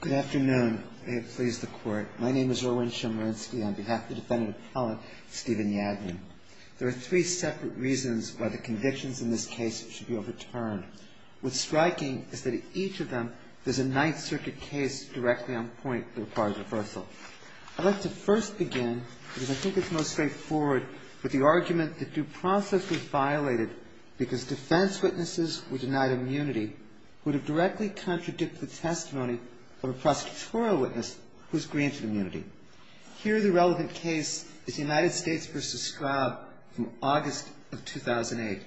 Good afternoon. May it please the Court. My name is Erwin Chemerinsky. On behalf of the Defendant Appellant Stephen Yagman, there are three separate reasons why the convictions in this case should be overturned. What's striking is that in each of them, there's a Ninth Circuit case directly on point that requires reversal. I'd like to first begin, because I think it's most straightforward, with the argument that due process was violated because defense witnesses who denied immunity would have directly contradicted the testimony of a prosecutorial witness who was granted immunity. Here, the relevant case is United States v. Straub from August of 2008.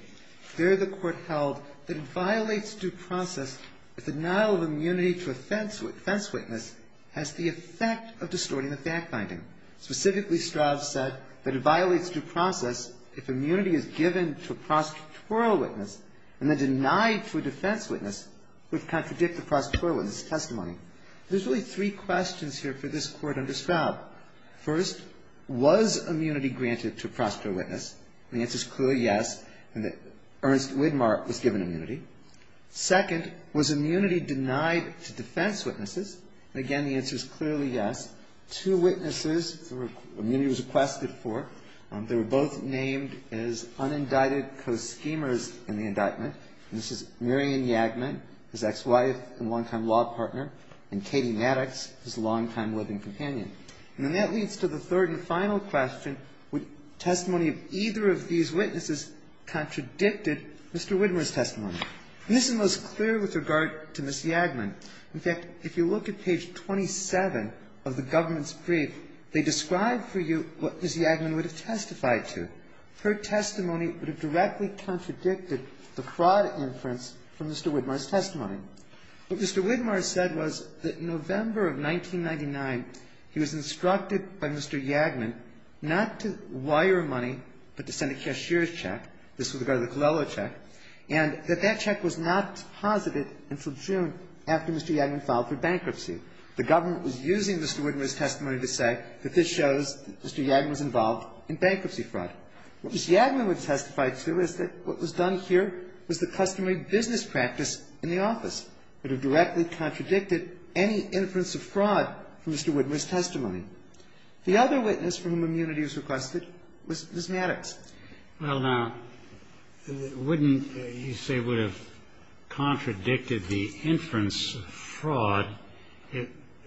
There, the Court held that it violates due process if the denial of immunity to a defense witness has the effect of distorting the fact-finding. Specifically, Straub said that it violates due process if immunity is given to a prosecutorial witness and then denied to a defense witness, which contradicts the prosecutorial witness' testimony. There's really three questions here for this Court under Straub. First, was immunity granted to a prosecutorial witness? And the answer is clearly yes, and that Ernst Widmar was given immunity. Second, was immunity denied to defense witnesses? And again, the witnesses immunity was requested for, they were both named as unindicted co-schemers in the indictment. And this is Marion Yagman, his ex-wife and longtime law partner, and Katie Maddox, his longtime living companion. And that leads to the third and final question, would testimony of either of these witnesses contradicted Mr. Widmar's testimony? And this is most clear with regard to Ms. Yagman. In fact, if you look at page 27 of the government's brief, they describe for you what Ms. Yagman would have testified to. Her testimony would have directly contradicted the fraud inference from Mr. Widmar's testimony. What Mr. Widmar said was that in November of 1999, he was instructed by Mr. Yagman not to wire money, but to send a cashier's check. This was a garlic-lello check. And that that check was not posited until June after Mr. Yagman filed for bankruptcy. The government was using Mr. Widmar's testimony to say that this shows that Mr. Yagman was involved in bankruptcy fraud. What Ms. Yagman would testify to is that what was done here was the customary business practice in the office. It would have directly contradicted any inference of fraud from Mr. Widmar's testimony. The other witness from whom immunity was requested was Ms. Maddox. Well, now, wouldn't you say would have contradicted the inference of fraud?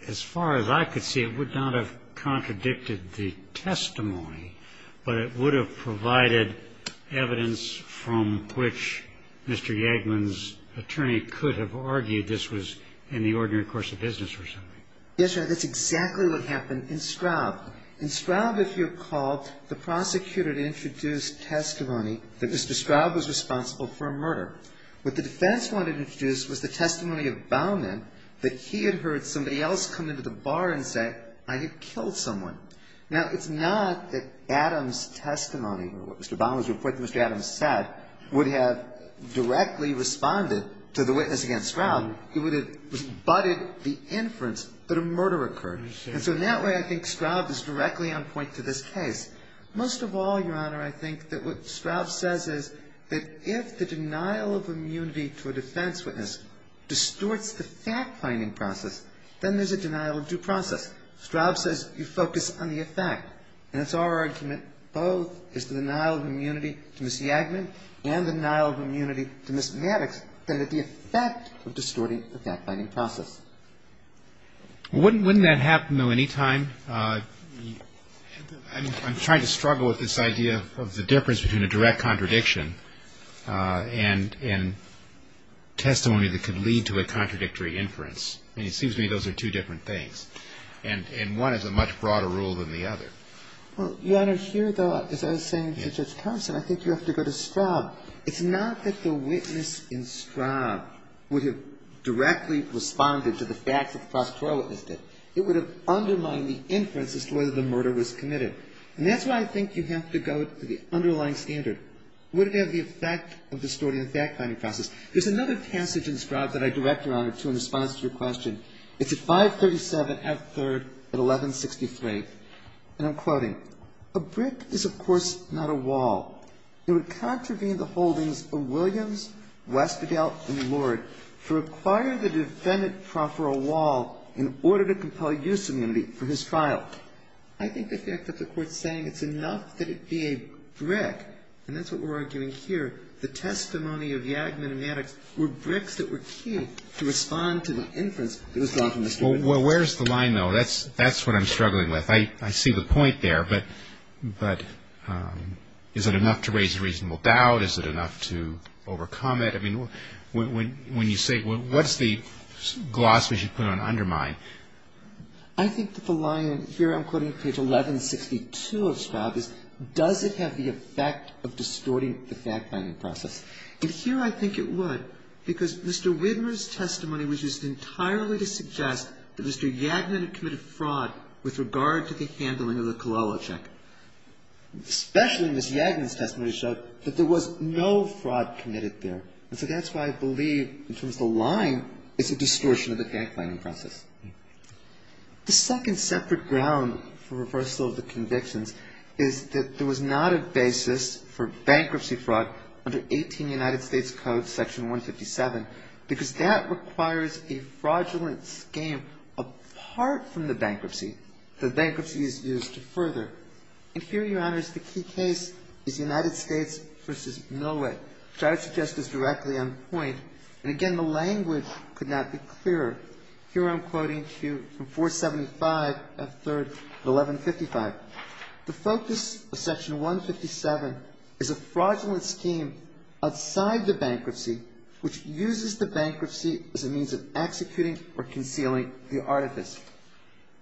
As far as I could see, it would not have contradicted the testimony, but it would have provided evidence from which Mr. Yagman's attorney could have argued this was in the ordinary course of business or something. Yes, Your Honor. That's exactly what happened in Straub. In Straub, if you recall, the prosecutor had introduced testimony that Mr. Straub was responsible for a murder. What the defense wanted to introduce was the testimony of Baumann that he had heard somebody else come into the bar and say, I had killed someone. Now, it's not that Adam's testimony or what Mr. Baumann's report that Mr. Adams said would have directly responded to the witness against Straub. It would have budded the inference that a murder occurred. And so in that way, I think Straub is directly on point to this case. Most of all, Your Honor, I think that what Straub says is that if the denial of immunity to a defense witness distorts the fact-finding process, then there's a denial of due process. Straub says you focus on the effect. And it's our argument both is the denial of immunity to Ms. Yagman and the denial of immunity to Ms. Maddox that the effect of distorting the fact-finding process. Wouldn't that happen, though, any time? I'm trying to struggle with this idea of the difference between a direct contradiction and testimony that could lead to a contradictory inference. And it seems to me those are two different things. And one is a much broader rule than the other. Well, Your Honor, here, though, as I was saying to Judge Thomson, I think you have to go to the underlying standard. Would it have the effect of distorting the fact-finding process? There's another passage in Straub that I direct, Your Honor, to in response to your question. It's at 537 F. 3rd at 1163. And I'm quoting, I think the fact that the Court's saying it's enough that it be a brick, and that's what we're arguing here, the testimony of Yagman and Maddox were bricks that were key to respond to the inference that was drawn from the student court. Well, where's the line, though? That's what I'm struggling with. I see the point there. But is it enough to raise a reasonable doubt? Is it enough to overcome it? I mean, when you say, what's the gloss we should put on undermine? I think the line here, I'm quoting page 1162 of Straub, is does it have the effect of distorting the fact-finding process? And here I think it would, because Mr. Widmer's testimony was just entirely to suggest that Mr. Yagman had committed fraud with regard to the handling of the Cololo check. Especially Ms. Yagman's testimony showed that there was no fraud committed there. And so that's why I believe, in terms of the line, it's a distortion of the fact-finding process. The second separate ground for reversal of the convictions is that there was not a basis for bankruptcy fraud under 18 United States Code, Section 157, because that requires a And here, Your Honors, the key case is United States v. Millway, which I would suggest is directly on point. And again, the language could not be clearer. Here I'm quoting to you from 475 of 3rd of 1155. The focus of Section 157 is a fraudulent scheme outside the bankruptcy which uses the bankruptcy as a means of executing or concealing the artifice.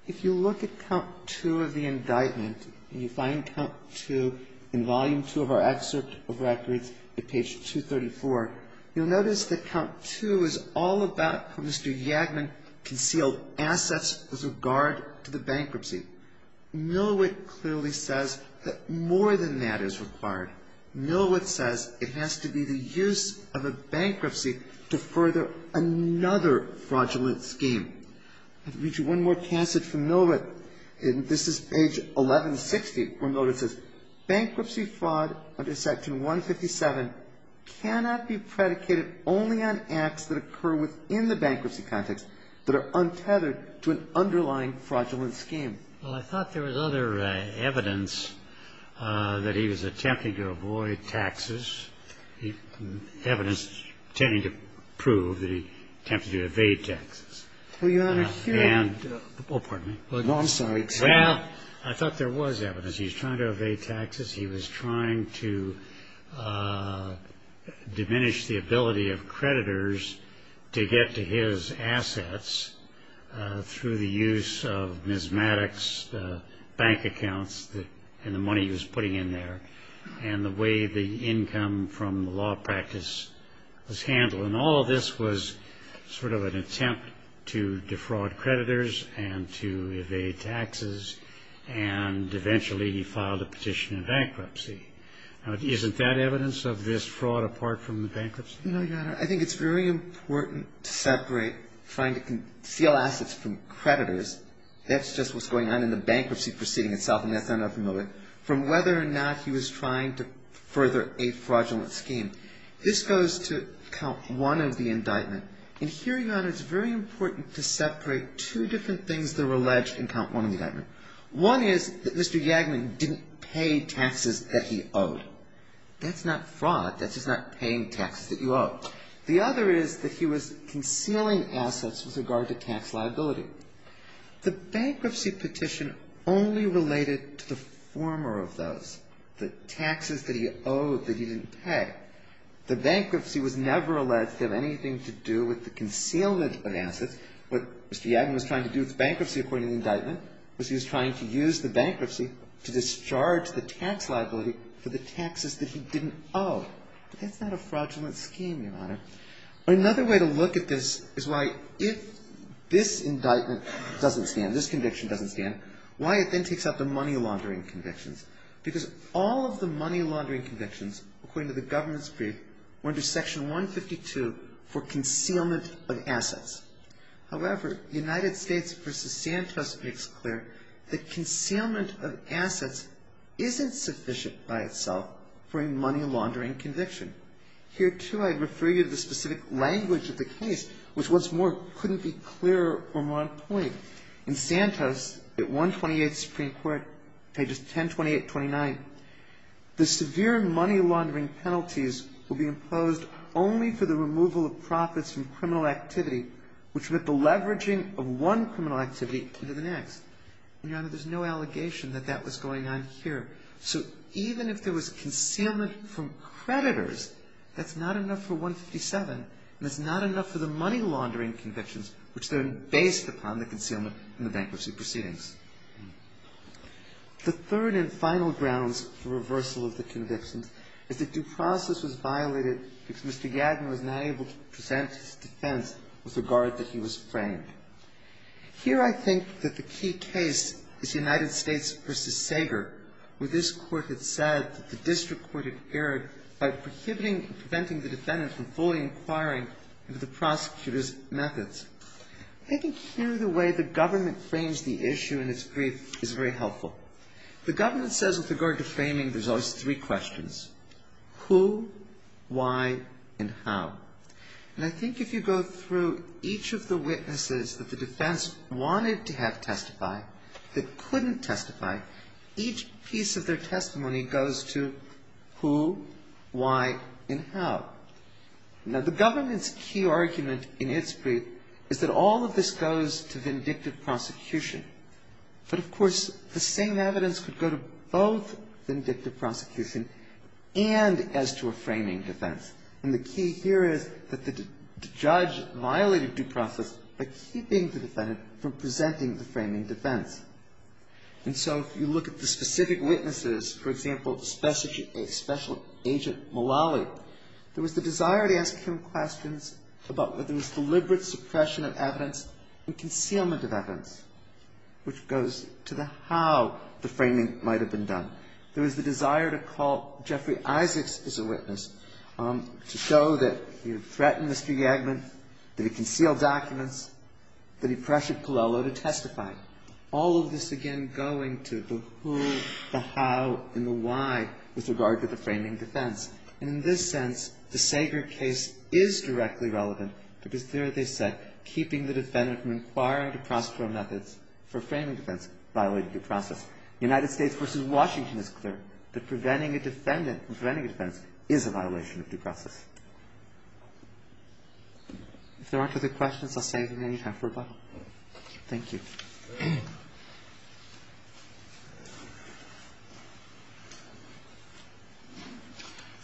If you look at count two of the indictment, and you find count two in volume two of our excerpt of records at page 234, you'll notice that count two is all about how Mr. Yagman concealed assets with regard to the bankruptcy. Millowit clearly says that more than that is required. Millowit says it has to be the use of a bankruptcy to further another fraudulent scheme. I'll read you one more passage from Millowit. And this is page 1160 where Millowit says bankruptcy fraud under Section 157 cannot be predicated only on acts that occur within the bankruptcy context that are untethered to an underlying fraudulent scheme. Well, I thought there was other evidence that he was attempting to avoid taxes, evidence tending to prove that he attempted to evade taxes. Well, Your Honor, here... Oh, pardon me. No, I'm sorry. Well, I thought there was evidence he was trying to evade taxes, he was trying to diminish the ability of creditors to get to his assets through the use of Ms. Maddox's bank accounts and the money he was putting in there, and the way the income from the law practice was to defraud creditors and to evade taxes, and eventually he filed a petition in bankruptcy. Now, isn't that evidence of this fraud apart from the bankruptcy? No, Your Honor. I think it's very important to separate trying to conceal assets from creditors, that's just what's going on in the bankruptcy proceeding itself, and that's not unfamiliar, from whether or not he was trying to further a fraudulent scheme. This goes to count one of the indictment, and here, Your Honor, it's very important to separate two different things that were alleged in count one of the indictment. One is that Mr. Yagman didn't pay taxes that he owed. That's not fraud. That's just not paying taxes that you owe. The other is that he was concealing assets with regard to tax liability. The bankruptcy petition only related to the former of those, the taxes that he owed that he didn't pay. The bankruptcy was never alleged to have anything to do with the concealment of assets. What Mr. Yagman was trying to do with the bankruptcy according to the indictment was he was trying to use the bankruptcy to discharge the tax liability for the taxes that he didn't owe. That's not a fraudulent scheme, Your Honor. Another way to look at this is why if this indictment doesn't stand, this conviction doesn't stand, why it then takes out the money laundering convictions, because all of the briefs, according to the government's brief, went to section 152 for concealment of assets. However, United States v. Santos makes clear that concealment of assets isn't sufficient by itself for a money laundering conviction. Here, too, I refer you to the specific language of the case, which, what's more, couldn't be clearer from one point. In Santos, at 128 Supreme Court, pages 1028-29, the severe money laundering penalties will be imposed only for the removal of profits from criminal activity, which meant the leveraging of one criminal activity into the next. And, Your Honor, there's no allegation that that was going on here. So even if there was concealment from creditors, that's not enough for 157, and that's not enough for the money laundering convictions, which then based upon the concealment from the bankruptcy proceedings. The third and final grounds for reversal of the convictions is that due process was violated because Mr. Yadner was not able to present his defense with regard that he was framed. Here, I think that the key case is United States v. Sager, where this Court had said that the district court had erred by prohibiting and preventing the defendant from fully inquiring into the prosecutor's methods. I think here the way the government frames the issue in its brief is very helpful. The government says with regard to framing, there's always three questions, who, why, and how. And I think if you go through each of the witnesses that the defense wanted to have testify, each piece of their testimony goes to who, why, and how. Now, the government's key argument in its brief is that all of this goes to vindictive prosecution. But, of course, the same evidence could go to both vindictive prosecution and as to a framing defense. And the key here is that the judge violated due process by keeping the defendant from And so if you look at the specific witnesses, for example, Special Agent Mullally, there was the desire to ask him questions about whether there was deliberate suppression of evidence and concealment of evidence, which goes to the how the framing might have been done. There was the desire to call Jeffrey Isaacs as a witness, to show that he threatened Mr. Yadner, that he concealed documents, that he pressured Pallello to testify. All of this, again, going to the who, the how, and the why with regard to the framing defense. And in this sense, the Sager case is directly relevant because there they said keeping the defendant from inquiring into prosecutorial methods for framing defense violated due process. The United States v. Washington is clear that preventing a defendant from preventing a defense is a violation of due process. If there aren't other questions, I'll save them any time for rebuttal. Thank you.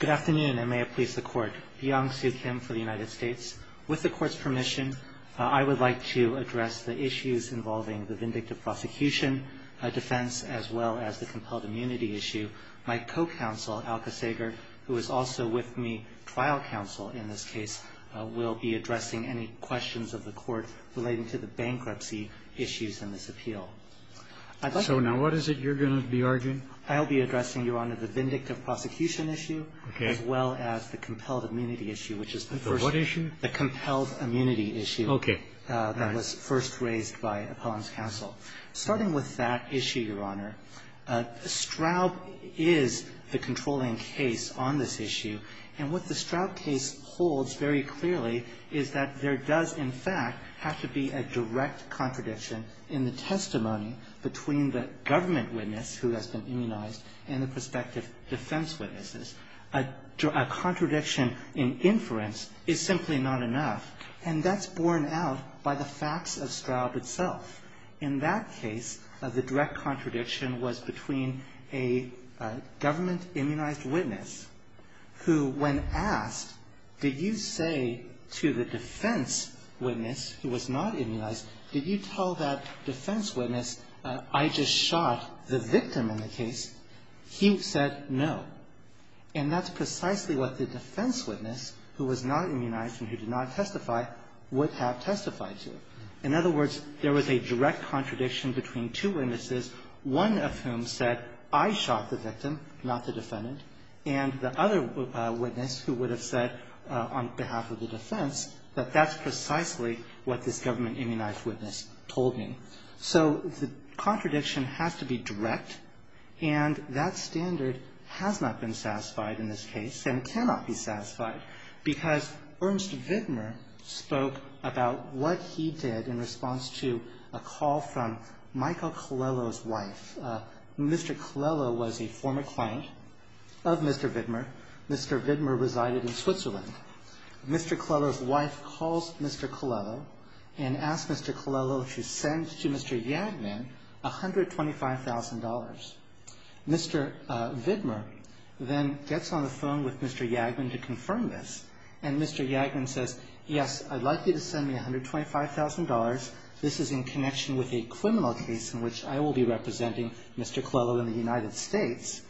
Good afternoon, and may it please the Court. Byung Soo Kim for the United States. With the Court's permission, I would like to address the issues involving the vindictive prosecution defense as well as the compelled immunity issue. My co-counsel, Alka Sager, who is also with me trial counsel in this case, will be So now what is it you're going to be arguing? I'll be addressing, Your Honor, the vindictive prosecution issue as well as the compelled immunity issue, which is the first. The what issue? The compelled immunity issue. Okay. That was first raised by Appellant's counsel. Starting with that issue, Your Honor, Straub is the controlling case on this issue, and what the Straub case holds very clearly is that there does, in fact, have to be a direct contradiction in the testimony between the government witness who has been immunized and the prospective defense witnesses. A contradiction in inference is simply not enough, and that's borne out by the facts of Straub itself. In that case, the direct contradiction was between a government immunized witness who, when asked, did you say to the defense witness who was not immunized, did you tell that defense witness, I just shot the victim in the case, he said no. And that's precisely what the defense witness, who was not immunized and who did not testify, would have testified to. In other words, there was a direct contradiction between two witnesses, one of whom said, I shot the victim, not the defendant, and the other witness who would have said on behalf of the defense that that's precisely what this government immunized witness told me. So the contradiction has to be direct, and that standard has not been satisfied in this case and cannot be satisfied because Ernst Wittmer spoke about what he did in response to a call from Michael Colello's wife. Mr. Colello was a former client of Mr. Wittmer. Mr. Wittmer resided in Switzerland. Mr. Colello's wife calls Mr. Colello and asks Mr. Colello if she sends to Mr. Jagman $125,000. Mr. Wittmer then gets on the phone with Mr. Jagman to confirm this, and Mr. Jagman says, yes, I'd like you to send me $125,000. This is in connection with a criminal case in which I will be representing Mr. Colello in the United States,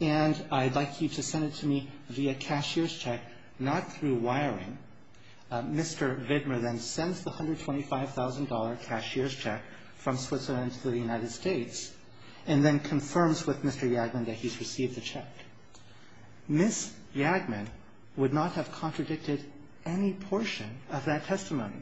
and I'd like you to send it to me via cashier's check, not through wiring. Mr. Wittmer then sends the $125,000 cashier's check from Switzerland to the United States and then confirms with Mr. Jagman that he's received the check. Ms. Jagman would not have contradicted any portion of that testimony.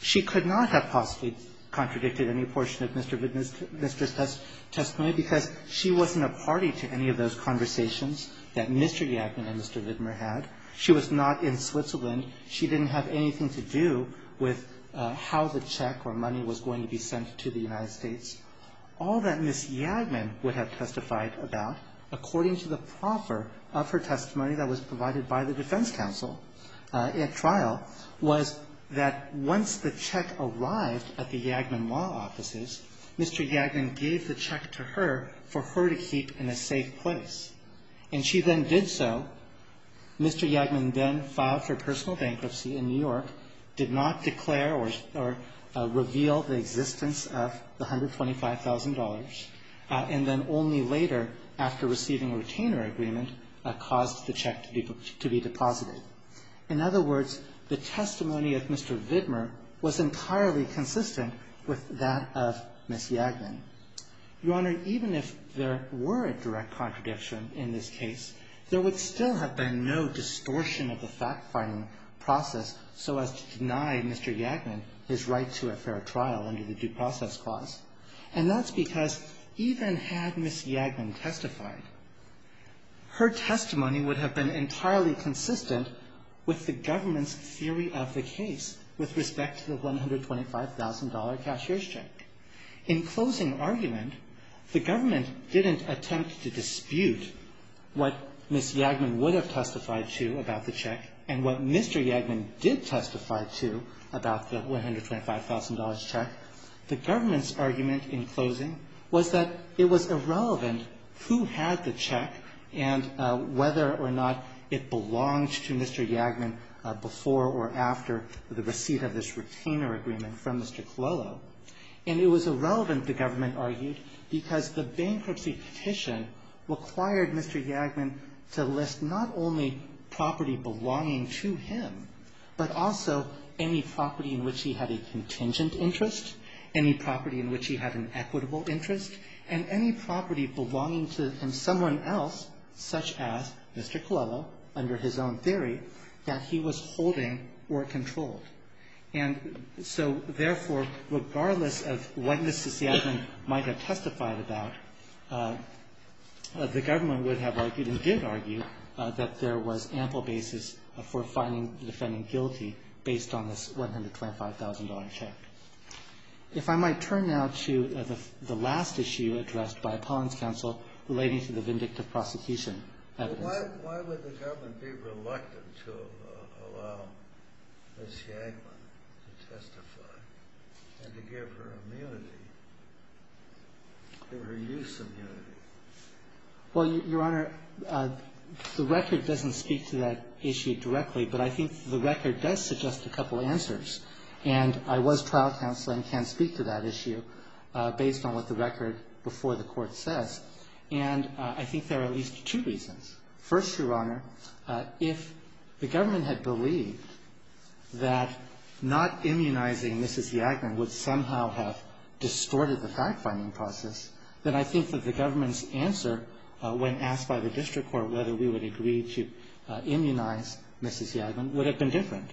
She could not have possibly contradicted any portion of Mr. Wittmer's testimony because she wasn't a party to any of those conversations that Mr. Jagman and Mr. Wittmer had. She was not in Switzerland. She didn't have anything to do with how the check or money was going to be sent to the United States. All that Ms. Jagman would have testified about, according to the proffer of her testimony that was provided by the defense counsel at trial, was that once the check arrived at the Jagman law offices, Mr. Jagman gave the check to her for her to keep in a safe place, and she then did so. Mr. Jagman then filed for personal bankruptcy in New York, did not declare or reveal the existence of the $125,000, and then only later, after receiving a retainer agreement, caused the check to be deposited. In other words, the testimony of Mr. Wittmer was entirely consistent with that of Ms. Jagman. Your Honor, even if there were a direct contradiction in this case, there would still have been no distortion of the fact-finding process so as to deny Mr. Jagman his right to a fair trial under the due process clause, and that's because even had Ms. Jagman testified, her testimony would have been entirely consistent with the government's theory of the case with respect to the $125,000 cashier's check. In closing argument, the government didn't attempt to dispute what Ms. Jagman would have testified to about the check and what Mr. Jagman did testify to about the $125,000 check. The government's argument in closing was that it was irrelevant who had the check and whether or not it belonged to Mr. Jagman before or after the receipt of this retainer agreement from Mr. Cololo. And it was irrelevant, the government argued, because the bankruptcy petition required Mr. Jagman to list not only property belonging to him, but also any property in which he had a contingent interest, any property in which he had an equitable interest, and any property belonging to someone else, such as Mr. Cololo, under his own theory, that he was holding or controlled. And so, therefore, regardless of what Ms. Jagman might have testified about, the government would have argued, and did argue, that there was ample basis for finding the defendant guilty based on this $125,000 check. If I might turn now to the last issue addressed by Pauline's counsel relating to the vindictive prosecution evidence. Why would the government be reluctant to allow Ms. Jagman to testify and to give her immunity, give her use immunity? Well, Your Honor, the record doesn't speak to that issue directly, but I think the record does suggest a couple answers. And I was trial counsel and can speak to that issue based on what the record before the court says. And I think there are at least two reasons. First, Your Honor, if the government had believed that not immunizing Mrs. Jagman would somehow have distorted the fact-finding process, then I think that the government's answer, when asked by the district court whether we would agree to immunize Mrs. Jagman, would have been different.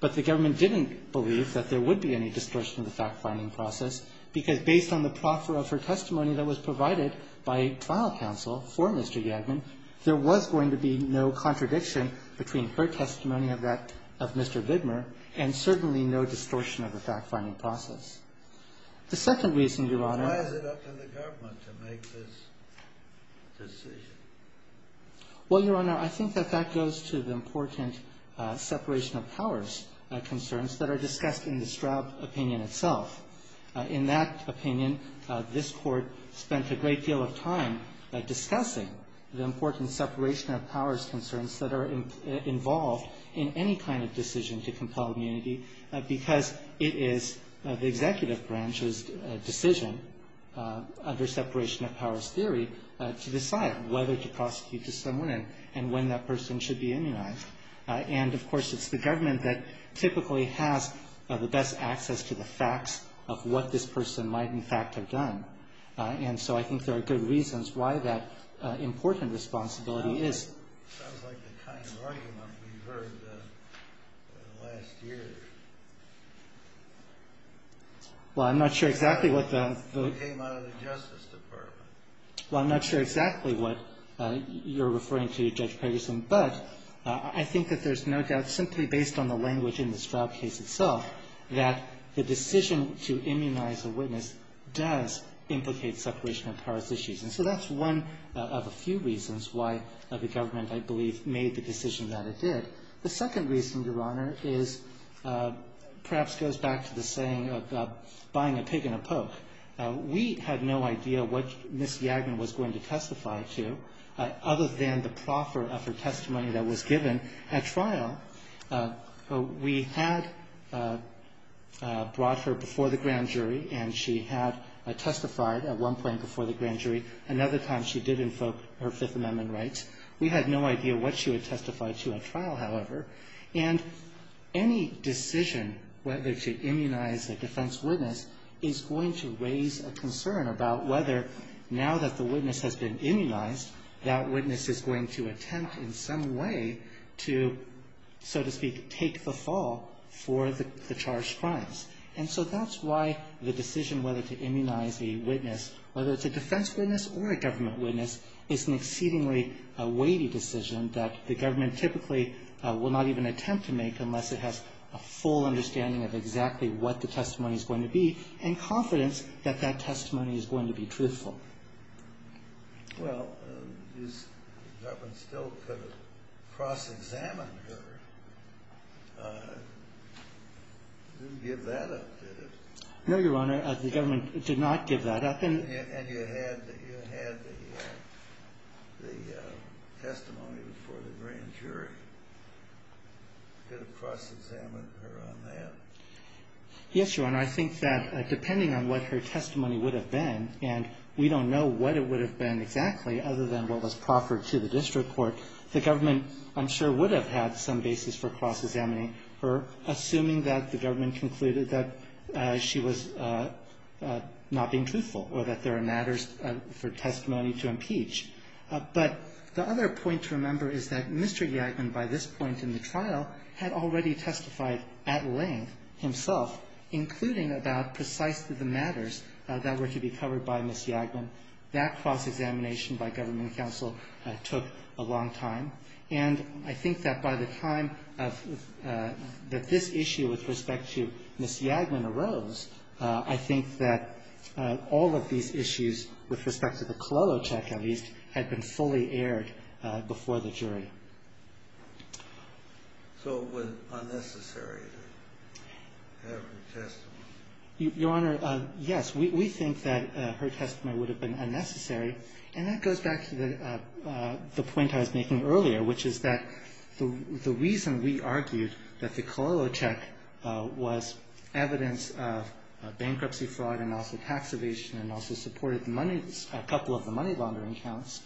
But the government didn't believe that there would be any distortion of the fact-finding process, because based on the proffer of her testimony that was provided by trial counsel for Mr. Jagman, there was going to be no contradiction between her testimony of that of Mr. Vidmer and certainly no distortion of the fact-finding process. The second reason, Your Honor. Why is it up to the government to make this decision? Well, Your Honor, I think that that goes to the important separation of powers concerns that are discussed in the Straub opinion itself. In that opinion, this Court spent a great deal of time discussing the important separation of powers concerns that are involved in any kind of decision to compel immunity because it is the executive branch's decision, under separation of powers theory, to decide whether to prosecute to someone and when that person should be immunized. And, of course, it's the government that typically has the best access to the facts of what this person might, in fact, have done. And so I think there are good reasons why that important responsibility is. It sounds like the kind of argument we've heard in the last year. Well, I'm not sure exactly what the... It came out of the Justice Department. Well, I'm not sure exactly what you're referring to, Judge Pegersen. But I think that there's no doubt simply based on the language in the Straub case itself that the decision to immunize a witness does implicate separation of powers issues. And so that's one of a few reasons why the government, I believe, made the decision that it did. The second reason, Your Honor, is perhaps goes back to the saying of buying a pig and a poke. We had no idea what Ms. Yagnon was going to testify to other than the proffer of her testimony that was given at trial. We had brought her before the grand jury, and she had testified at one point before the grand jury. Another time she did invoke her Fifth Amendment rights. We had no idea what she would testify to at trial, however. And any decision whether to immunize a defense witness is going to raise a concern about whether, now that the witness has been immunized, that witness is going to attempt in some way to, so to speak, take the fall for the charged crimes. And so that's why the decision whether to immunize a witness, whether it's a defense witness or a government witness, is an exceedingly weighty decision that the government typically will not even attempt to make unless it has a full understanding of exactly what the testimony is going to be and confidence that that testimony is going to be truthful. Well, is that one still could have cross-examined her? You didn't give that up, did you? No, Your Honor. The government did not give that up. And you had the testimony before the grand jury. Could have cross-examined her on that? Yes, Your Honor. I think that depending on what her testimony would have been, and we don't know what it would have been exactly other than what was proffered to the district court, the government, I'm sure, would have had some basis for cross-examining her, assuming that the government concluded that she was not being truthful or that there are matters for testimony to impeach. But the other point to remember is that Mr. Yagman, by this point in the trial, had already testified at length himself, including about precisely the matters that were to be covered by Ms. Yagman. That cross-examination by government counsel took a long time. And I think that by the time that this issue with respect to Ms. Yagman arose, I think that all of these issues with respect to the Cololo check, at least, had been fully aired before the jury. So it was unnecessary to have her testimony? Your Honor, yes. We think that her testimony would have been unnecessary. And that goes back to the point I was making earlier, which is that the reason we argued that the Cololo check was evidence of bankruptcy fraud and also tax evasion and also supported a couple of the money laundering counts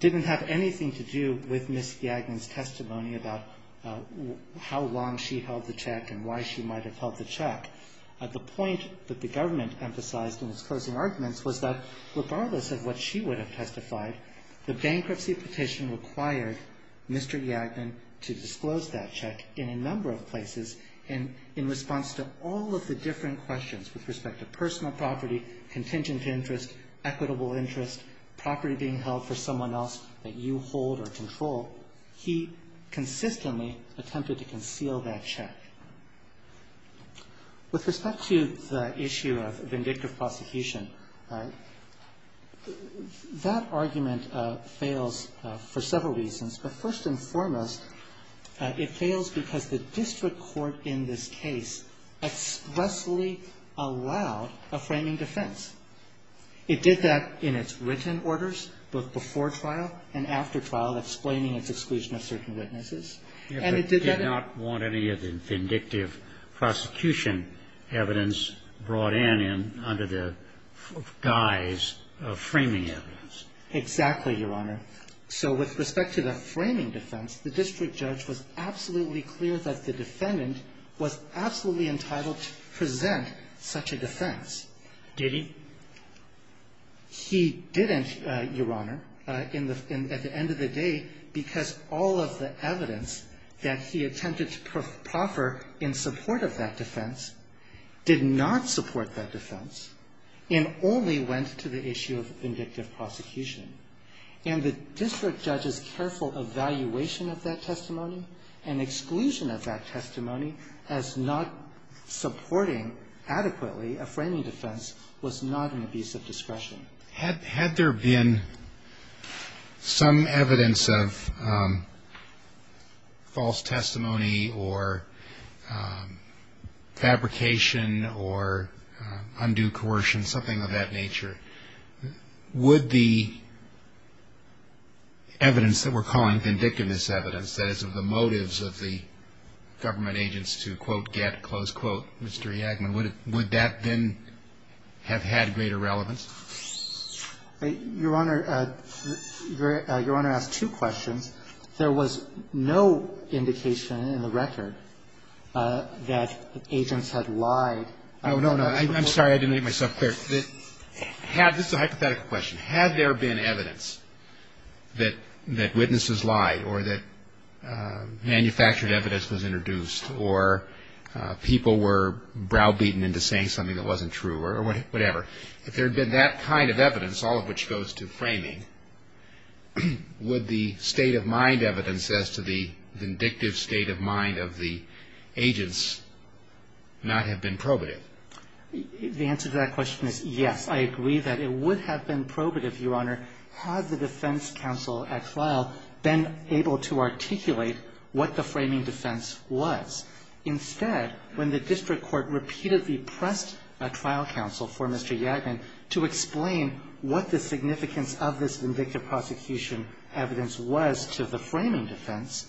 didn't have anything to do with Ms. Yagman's testimony about how long she held the check and why she might have held the check. The point that the government emphasized in its closing arguments was that regardless of what she would have testified, the bankruptcy petition required Mr. Yagman to disclose that check in a number of places. And in response to all of the different questions with respect to personal property, contingent interest, equitable interest, property being held for someone else that you hold or control, he consistently attempted to conceal that check. With respect to the issue of vindictive prosecution, that argument fails for several reasons. But first and foremost, it fails because the district court in this case expressly allowed a framing defense. It did that in its written orders, both before trial and after trial, explaining its exclusion of certain witnesses. And it did that in its written orders. It did not want any of the vindictive prosecution evidence brought in under the guise of framing evidence. Exactly, Your Honor. So with respect to the framing defense, the district judge was absolutely clear that the defendant was absolutely entitled to present such a defense. Did he? He didn't, Your Honor, at the end of the day, because all of the evidence that he attempted to proffer in support of that defense did not support that defense and only went to the issue of vindictive prosecution. And the district judge's careful evaluation of that testimony and exclusion of that testimony as not supporting adequately a framing defense was not an abuse of discretion. Had there been some evidence of false testimony or fabrication or undue coercion, something of that nature, would the evidence that we're calling vindictiveness evidence, that is, of the motives of the government agents to, quote, get, Mr. Yagman, would that then have had greater relevance? Your Honor, your Honor asked two questions. There was no indication in the record that agents had lied. Oh, no, no. I'm sorry. I didn't make myself clear. This is a hypothetical question. Had there been evidence that witnesses lied or that manufactured evidence was introduced or people were browbeaten into saying something that wasn't true or whatever, if there had been that kind of evidence, all of which goes to framing, would the state-of-mind evidence as to the vindictive state of mind of the agents not have been probative? The answer to that question is yes. I agree that it would have been probative, Your Honor, had the defense counsel at trial been able to articulate what the framing defense was. Instead, when the district court repeatedly pressed a trial counsel for Mr. Yagman to explain what the significance of this vindictive prosecution evidence was to the framing defense,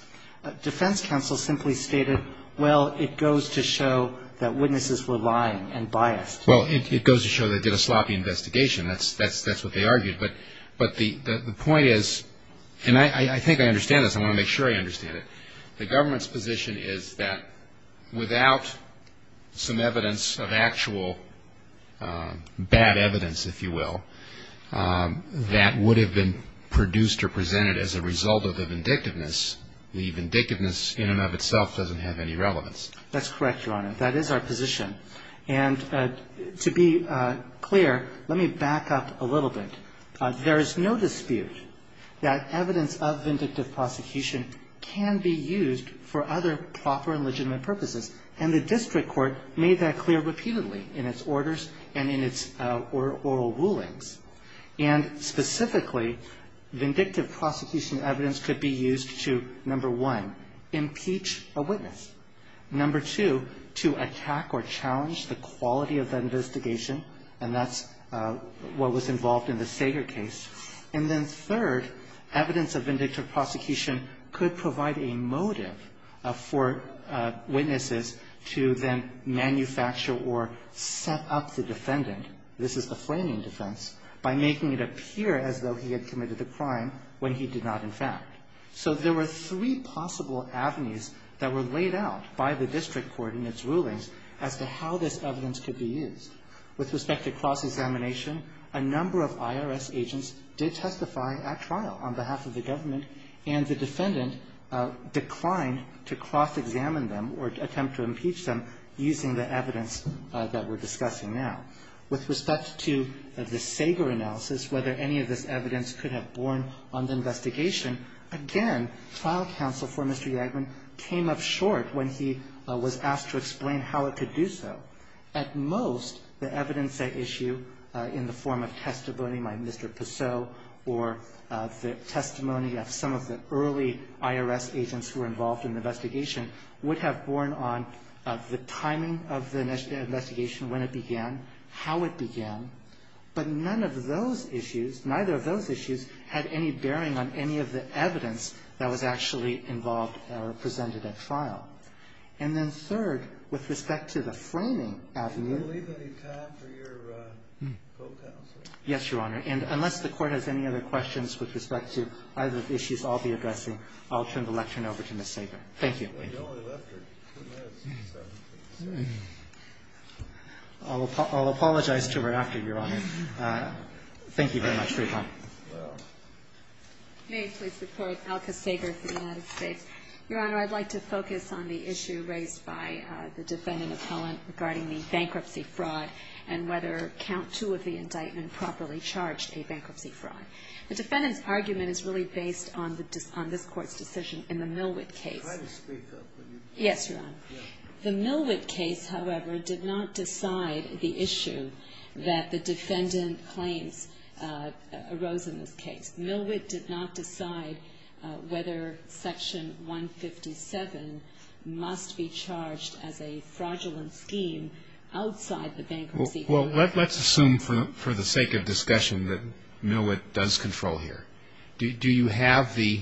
defense counsel simply stated, well, it goes to show that witnesses were lying and biased. Well, it goes to show they did a sloppy investigation. That's what they argued. But the point is, and I think I understand this. I want to make sure I understand it. The government's position is that without some evidence of actual bad evidence, if you will, that would have been produced or presented as a result of the vindictiveness, the vindictiveness in and of itself doesn't have any relevance. That's correct, Your Honor. That is our position. And to be clear, let me back up a little bit. There is no dispute that evidence of vindictive prosecution can be used for other proper and legitimate purposes. And the district court made that clear repeatedly in its orders and in its oral rulings. And specifically, vindictive prosecution evidence could be used to, number one, impeach a witness. Number two, to attack or challenge the quality of that investigation. And that's what was involved in the Sager case. And then third, evidence of vindictive prosecution could provide a motive for witnesses to then manufacture or set up the defendant. This is the Flaming defense. By making it appear as though he had committed the crime when he did not, in fact. So there were three possible avenues that were laid out by the district court in its rulings as to how this evidence could be used. With respect to cross-examination, a number of IRS agents did testify at trial on behalf of the government, and the defendant declined to cross-examine them or attempt to impeach them using the evidence that we're discussing now. With respect to the Sager analysis, whether any of this evidence could have borne on the investigation, again, trial counsel for Mr. Yagaman came up short when he was asked to explain how it could do so. At most, the evidence at issue in the form of testimony by Mr. Pissot or the testimony of some of the early IRS agents who were involved in the investigation would have borne on the timing of the investigation, when it began, how it began. But none of those issues, neither of those issues, had any bearing on any of the evidence that was actually involved or presented at trial. And then third, with respect to the Flaming avenue ---- Kennedy, did you leave any time for your co-counsel? Yes, Your Honor. And unless the Court has any other questions with respect to either of the issues I'll be addressing, I'll turn the lecture over to Ms. Sager. Thank you. We only left her two minutes. I'll apologize to her after, Your Honor. Thank you very much for your time. May I please report? Alka Sager for the United States. Your Honor, I'd like to focus on the issue raised by the defendant appellant regarding the bankruptcy fraud and whether count two of the indictment properly charged a bankruptcy fraud. The defendant's argument is really based on this Court's decision in the Millwick case. Yes, Your Honor. The Millwick case, however, did not decide the issue that the defendant claims arose in this case. Millwick did not decide whether Section 157 must be charged as a fraudulent scheme outside the bankruptcy. Well, let's assume for the sake of discussion that Millwick does control here. Do you have the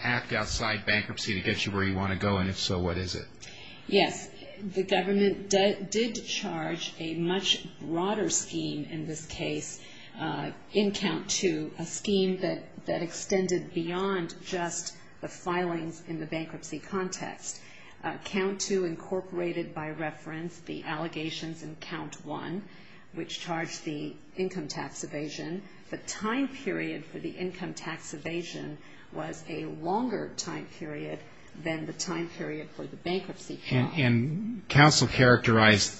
act outside bankruptcy to get you where you want to go, and if so, what is it? Yes. The government did charge a much broader scheme in this case in count two, a scheme that extended beyond just the filings in the bankruptcy context. Count two incorporated by reference the allegations in count one, which charged the income tax evasion. The time period for the income tax evasion was a longer time period than the time period for the bankruptcy fraud. And counsel characterized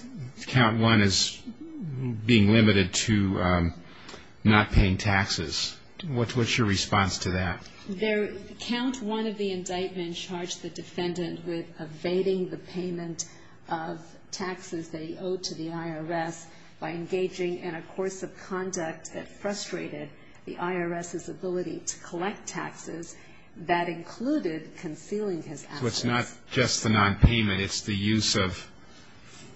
count one as being limited to not paying taxes. What's your response to that? Count one of the indictment charged the defendant with evading the payment of taxes they owe to the IRS by engaging in a course of conduct that frustrated the IRS's ability to collect taxes. That included concealing his assets. So it's not just the nonpayment. It's the use of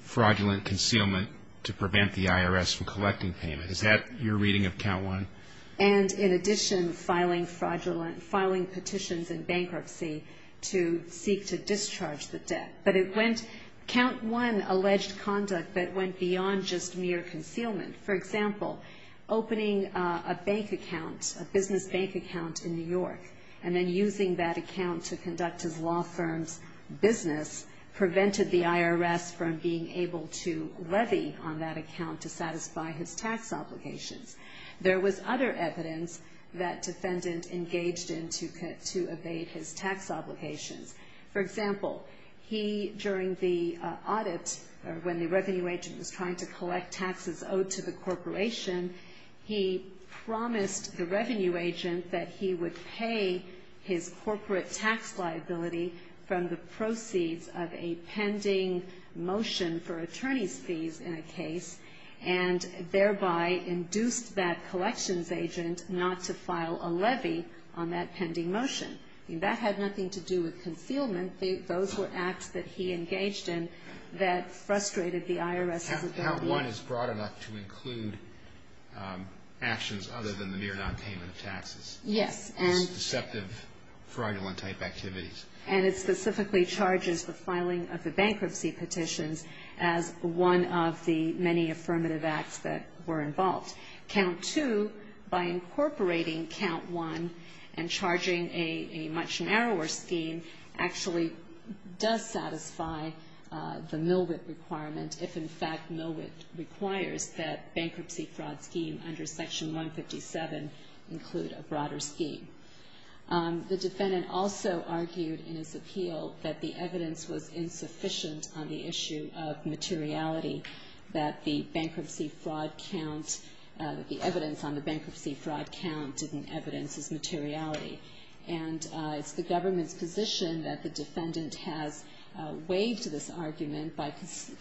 fraudulent concealment to prevent the IRS from collecting payment. Is that your reading of count one? And in addition, filing petitions in bankruptcy to seek to discharge the debt. Count one alleged conduct that went beyond just mere concealment. For example, opening a bank account, a business bank account in New York, and then using that account to conduct his law firm's business prevented the IRS from being able to levy on that account to satisfy his tax obligations. There was other evidence that defendant engaged in to evade his tax obligations. For example, he, during the audit, when the revenue agent was trying to collect taxes owed to the corporation, he promised the revenue agent that he would pay his corporate tax liability from the proceeds of a pending motion for attorney's fees in a case, and thereby induced that collections agent not to file a levy on that pending motion. That had nothing to do with concealment. Those were acts that he engaged in that frustrated the IRS as a government. Count one is broad enough to include actions other than the mere nonpayment of taxes. Yes. Deceptive fraudulent type activities. And it specifically charges the filing of the bankruptcy petitions as one of the many affirmative acts that were involved. Count two, by incorporating count one and charging a much narrower scheme, actually does satisfy the Millwick requirement, if in fact Millwick requires that bankruptcy fraud scheme under Section 157 include a broader scheme. The defendant also argued in his appeal that the evidence was insufficient on the issue of materiality, that the bankruptcy fraud count, the evidence on the bankruptcy fraud count didn't evidence his materiality. And it's the government's position that the defendant has waived this argument by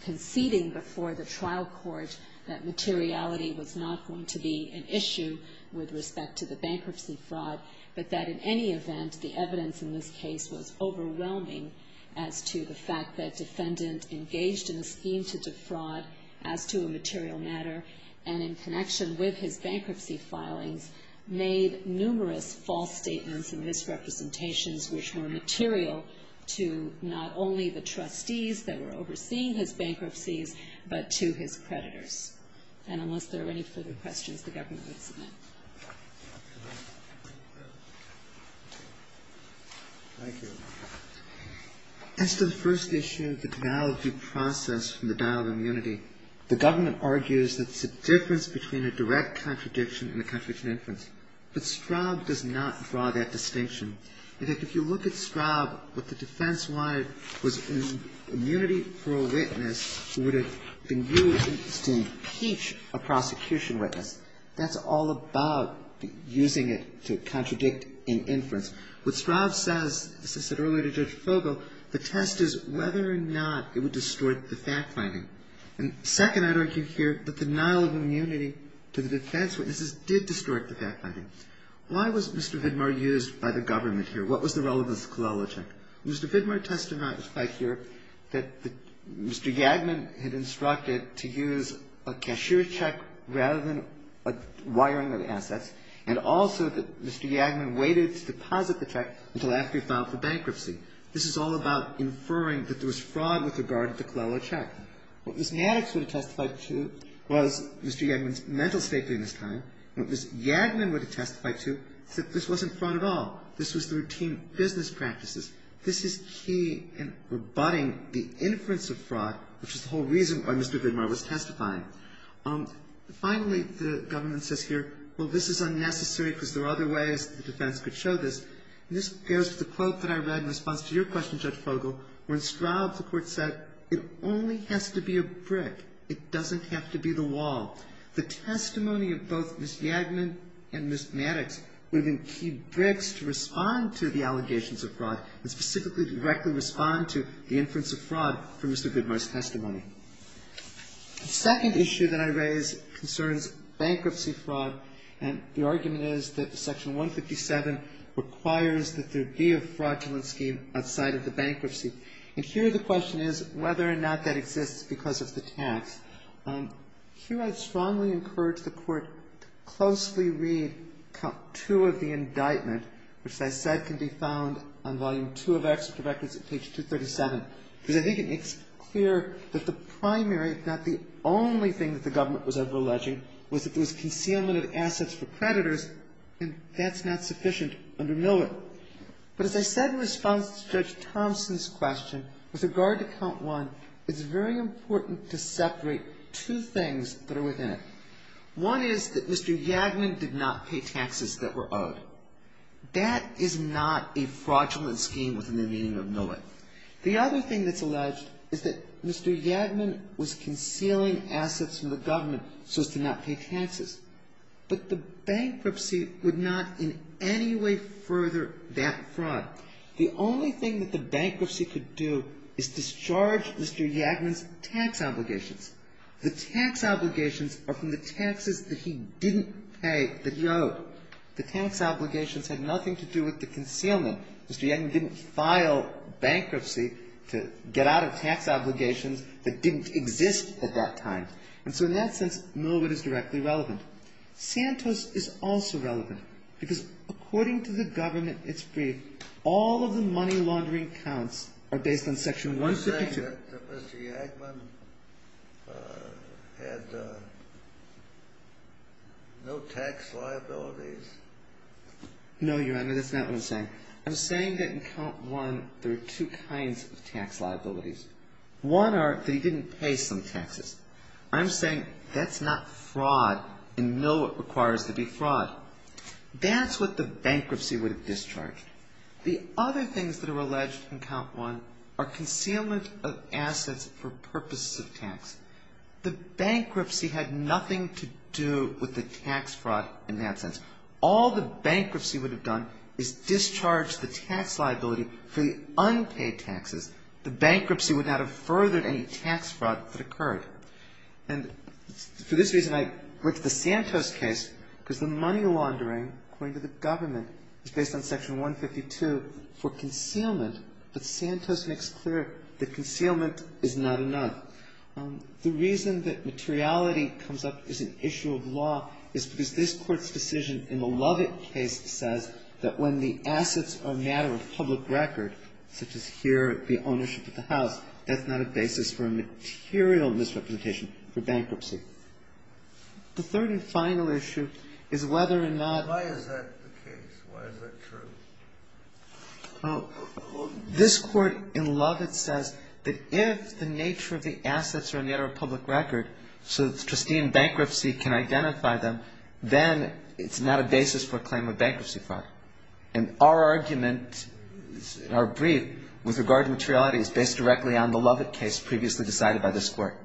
conceding before the trial court that materiality was not going to be an issue with respect to the bankruptcy fraud, but that in any event, the evidence in this case was overwhelming as to the fact that the defendant engaged in a scheme to defraud as to a material matter and in connection with his bankruptcy filings made numerous false statements and misrepresentations which were material to not only the trustees that were overseeing his bankruptcies, but to his creditors. And unless there are any further questions, the government would submit. Thank you. As to the first issue, the denial of due process from the dial of immunity, the government argues that it's a difference between a direct contradiction and a contradiction in inference. But Straub does not draw that distinction. In fact, if you look at Straub, what the defense wanted was immunity for a witness who would have been used to impeach a prosecution witness. That's all about using it to contradict an inference. What Straub says, as I said earlier to Judge Fogel, the test is whether or not it would distort the fact-finding. And second, I'd argue here that the denial of immunity to the defense witnesses did distort the fact-finding. Why was Mr. Vidmar used by the government here? What was the relevance of Klolochek? Mr. Vidmar testified here that Mr. Yadmin had instructed to use a cashier check rather than a wiring of assets, and also that Mr. Yadmin waited to deposit the check until after he filed for bankruptcy. This is all about inferring that there was fraud with regard to Klolochek. What Ms. Maddox would have testified to was Mr. Yadmin's mental safety in this time, and what Ms. Yadmin would have testified to is that this wasn't fraud at all. This was the routine business practices. This is key in rebutting the inference of fraud, which is the whole reason why Mr. Vidmar was testifying. Finally, the government says here, well, this is unnecessary because there are other ways the defense could show this. And this goes to the quote that I read in response to your question, Judge Fogel. When Straub, the Court said, it only has to be a brick. It doesn't have to be the wall. The testimony of both Ms. Yadmin and Ms. Maddox would have been key bricks to respond to the allegations of fraud and specifically directly respond to the inference of fraud from Mr. Vidmar's testimony. The second issue that I raise concerns bankruptcy fraud, and the argument is that Section 157 requires that there be a fraudulent scheme outside of the bankruptcy. And here the question is whether or not that exists because of the tax. Here I'd strongly encourage the Court to closely read Count 2 of the indictment, which as I said can be found on Volume 2 of Exeter Records at page 237, because I think it makes clear that the primary, if not the only thing that the government was ever alleging, was that there was concealment of assets for creditors, and that's not sufficient under Millett. But as I said in response to Judge Thompson's question, with regard to Count 1, it's very important to separate two things that are within it. One is that Mr. Yadmin did not pay taxes that were owed. That is not a fraudulent scheme within the meaning of Millett. The other thing that's alleged is that Mr. Yadmin was concealing assets from the government so as to not pay taxes. But the bankruptcy would not in any way further that fraud. The only thing that the bankruptcy could do is discharge Mr. Yadmin's tax obligations. The tax obligations are from the taxes that he didn't pay, that he owed. The tax obligations had nothing to do with the concealment. Mr. Yadmin didn't file bankruptcy to get out of tax obligations that didn't exist at that time. And so in that sense, Millett is directly relevant. Santos is also relevant, because according to the government, it's briefed, all of the money laundering counts are based on Section 1. You're saying that Mr. Yadmin had no tax liabilities? No, Your Honor, that's not what I'm saying. I'm saying that in Count 1, there are two kinds of tax liabilities. One are that he didn't pay some taxes. I'm saying that's not fraud, and Millett requires there be fraud. That's what the bankruptcy would have discharged. The other things that are alleged in Count 1 are concealment of assets for purposes of tax. The bankruptcy had nothing to do with the tax fraud in that sense. All the bankruptcy would have done is discharged the tax liability for the unpaid taxes. The bankruptcy would not have furthered any tax fraud that occurred. And for this reason, I went to the Santos case, because the money laundering, according to the government, is based on Section 152 for concealment, but Santos makes clear that concealment is not enough. The reason that materiality comes up as an issue of law is because this Court's decision in the Lovett case says that when the assets are a matter of public record, such as here the ownership of the house, that's not a basis for a material misrepresentation for bankruptcy. The third and final issue is whether or not ---- Why is that the case? Why is that true? Well, this Court in Lovett says that if the nature of the assets are a matter of public record, so that the trustee in bankruptcy can identify them, then it's not a basis for a claim of bankruptcy fraud. And our argument, our brief, with regard to materiality, is based directly on the Lovett case previously decided by this Court.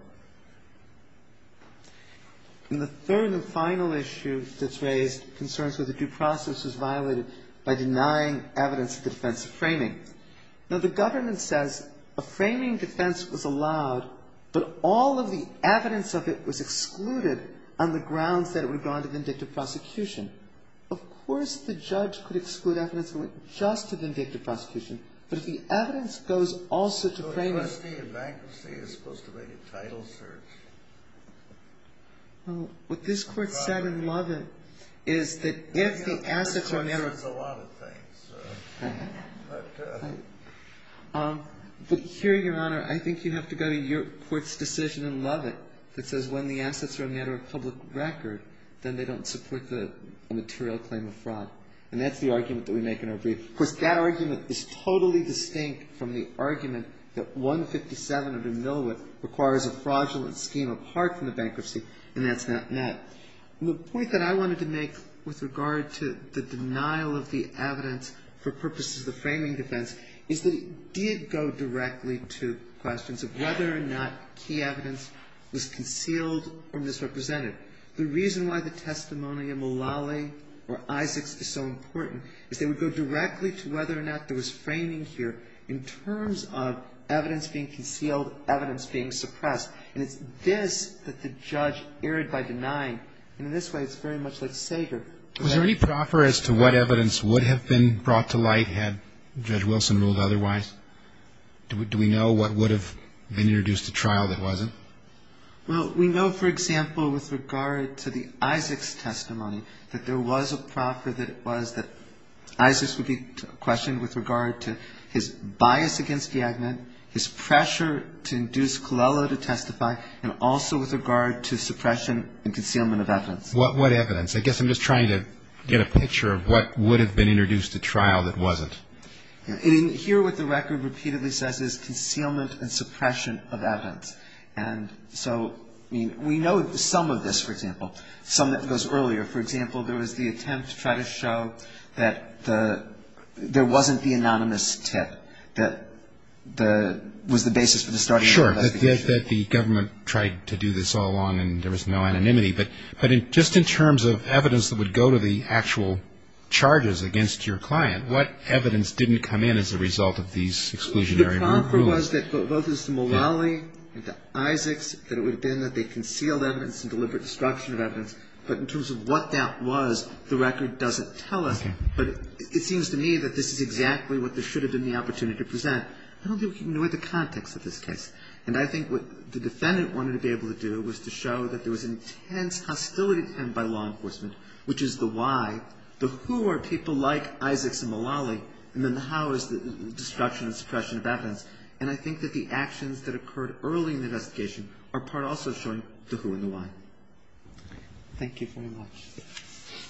And the third and final issue that's raised concerns whether due process is violated by denying evidence of defensive framing. Now, the government says a framing defense was allowed, but all of the evidence of it was excluded on the grounds that it would have gone to vindictive prosecution. Of course the judge could exclude evidence that went just to vindictive prosecution, but if the evidence goes also to framing ---- The trustee in bankruptcy is supposed to make a title search. Well, what this Court said in Lovett is that if the assets are a matter of public record ---- This Court says a lot of things. But here, Your Honor, I think you have to go to your Court's decision in Lovett that says when the assets are a matter of public record, then they don't support the material claim of fraud. And that's the argument that we make in our brief. Of course, that argument is totally distinct from the argument that 157 under Millwood requires a fraudulent scheme apart from the bankruptcy, and that's not met. The point that I wanted to make with regard to the denial of the evidence for purposes of the framing defense is that it did go directly to questions of whether or not key evidence was concealed or misrepresented. The reason why the testimony of Mullally or Isaacs is so important is they would go directly to whether or not there was framing here in terms of evidence being concealed, evidence being suppressed. And it's this that the judge erred by denying. And in this way, it's very much like Sager. Was there any proffer as to what evidence would have been brought to light had Judge Wilson ruled otherwise? Do we know what would have been introduced to trial that wasn't? Well, we know, for example, with regard to the Isaacs testimony, that there was a proffer that was that Isaacs would be questioned with regard to his bias against Yagnet, his pressure to induce Colella to testify, and also with regard to suppression and concealment of evidence. What evidence? I guess I'm just trying to get a picture of what would have been introduced to trial that wasn't. Here what the record repeatedly says is concealment and suppression of evidence. And so we know some of this, for example, some that goes earlier. For example, there was the attempt to try to show that there wasn't the anonymous tip that was the basis for the starting of the investigation. Sure, that the government tried to do this all along and there was no anonymity. But just in terms of evidence that would go to the actual charges against your client, what evidence didn't come in as a result of these exclusionary rulings? Well, the proffer was that both the Mullally and the Isaacs, that it would have been that they concealed evidence and deliberate destruction of evidence. But in terms of what that was, the record doesn't tell us. But it seems to me that this is exactly what there should have been the opportunity to present. I don't think we can ignore the context of this case. And I think what the defendant wanted to be able to do was to show that there was an intense hostility to him by law enforcement, which is the why, the who are people like Isaacs and Mullally, and then the how is the destruction and suppression of evidence. And I think that the actions that occurred early in the investigation are part also of showing the who and the why. Thank you very much.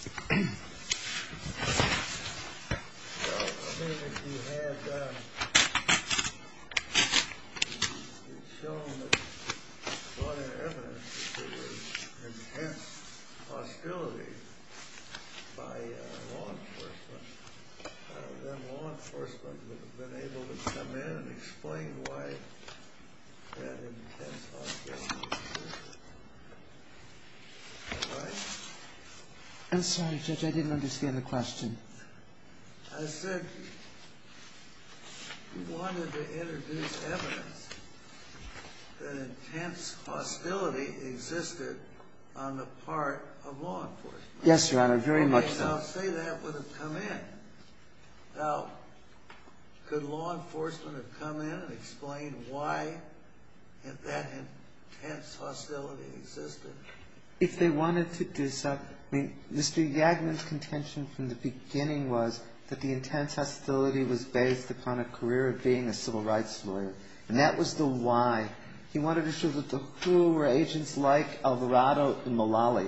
Well, I mean, if you had shown that there was intense hostility by law enforcement, then law enforcement would have been able to come in and explain why that intense hostility existed, right? I'm sorry, Judge. I didn't understand the question. I said you wanted to introduce evidence that intense hostility existed on the part of law enforcement. Yes, Your Honor, very much so. So say that would have come in. Now, could law enforcement have come in and explained why that intense hostility existed? If they wanted to do so. I mean, Mr. Yagman's contention from the beginning was that the intense hostility was based upon a career of being a civil rights lawyer. And that was the why. He wanted to show that the who were agents like Alvarado and Mullally.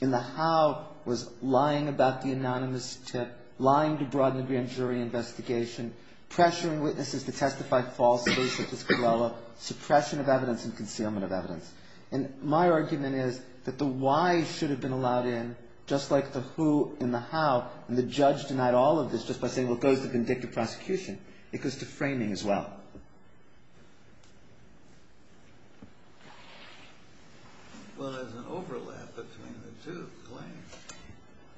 And the how was lying about the anonymous tip, lying to broaden the grand jury investigation, pressuring witnesses to testify falsely, suppression of evidence and concealment of evidence. And my argument is that the why should have been allowed in, just like the who and the how. And the judge denied all of this just by saying, well, it goes to vindictive prosecution. It goes to framing as well. Well, there's an overlap between the two claims.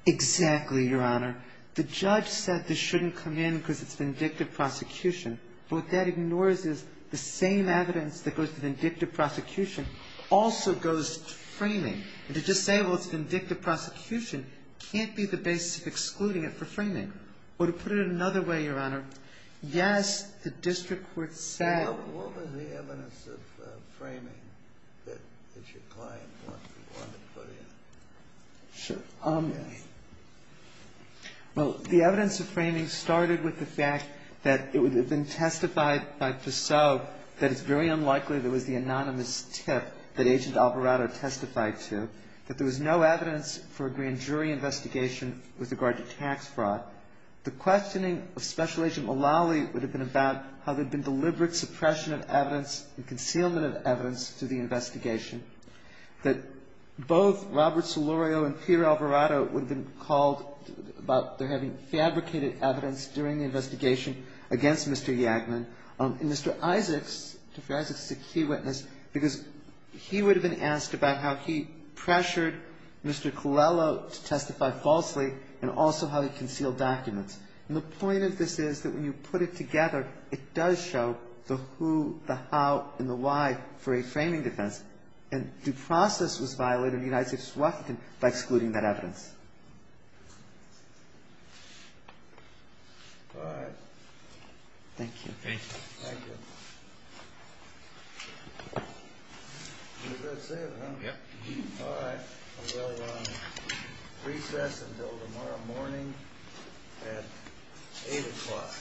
Exactly, Your Honor. The judge said this shouldn't come in because it's vindictive prosecution. But what that ignores is the same evidence that goes to vindictive prosecution also goes to framing. And to just say, well, it's vindictive prosecution can't be the basis of excluding it for framing. Well, to put it another way, Your Honor, yes, the district court said. What was the evidence of framing that your client wanted to put in? Sure. Well, the evidence of framing started with the fact that it had been testified by Pissot that it's very unlikely that it was the anonymous tip that Agent Alvarado testified to, that there was no evidence for a grand jury investigation with regard to tax fraud. The questioning of Special Agent Mullally would have been about how there'd been deliberate suppression of evidence and concealment of evidence to the investigation, that both Robert Solorio and Peter Alvarado would have been called about their having fabricated evidence during the investigation against Mr. Yagman. And Mr. Isaacs, Mr. Isaacs is a key witness because he would have been asked about how he pressured Mr. Yagman to testify falsely and also how he concealed documents. And the point of this is that when you put it together, it does show the who, the how, and the why for a framing defense. And due process was violated in the United States of Washington by excluding that evidence. All right. Thank you. Thank you. Thank you. That's it, huh? Yep. All right. We'll recess until tomorrow morning at 8 o'clock.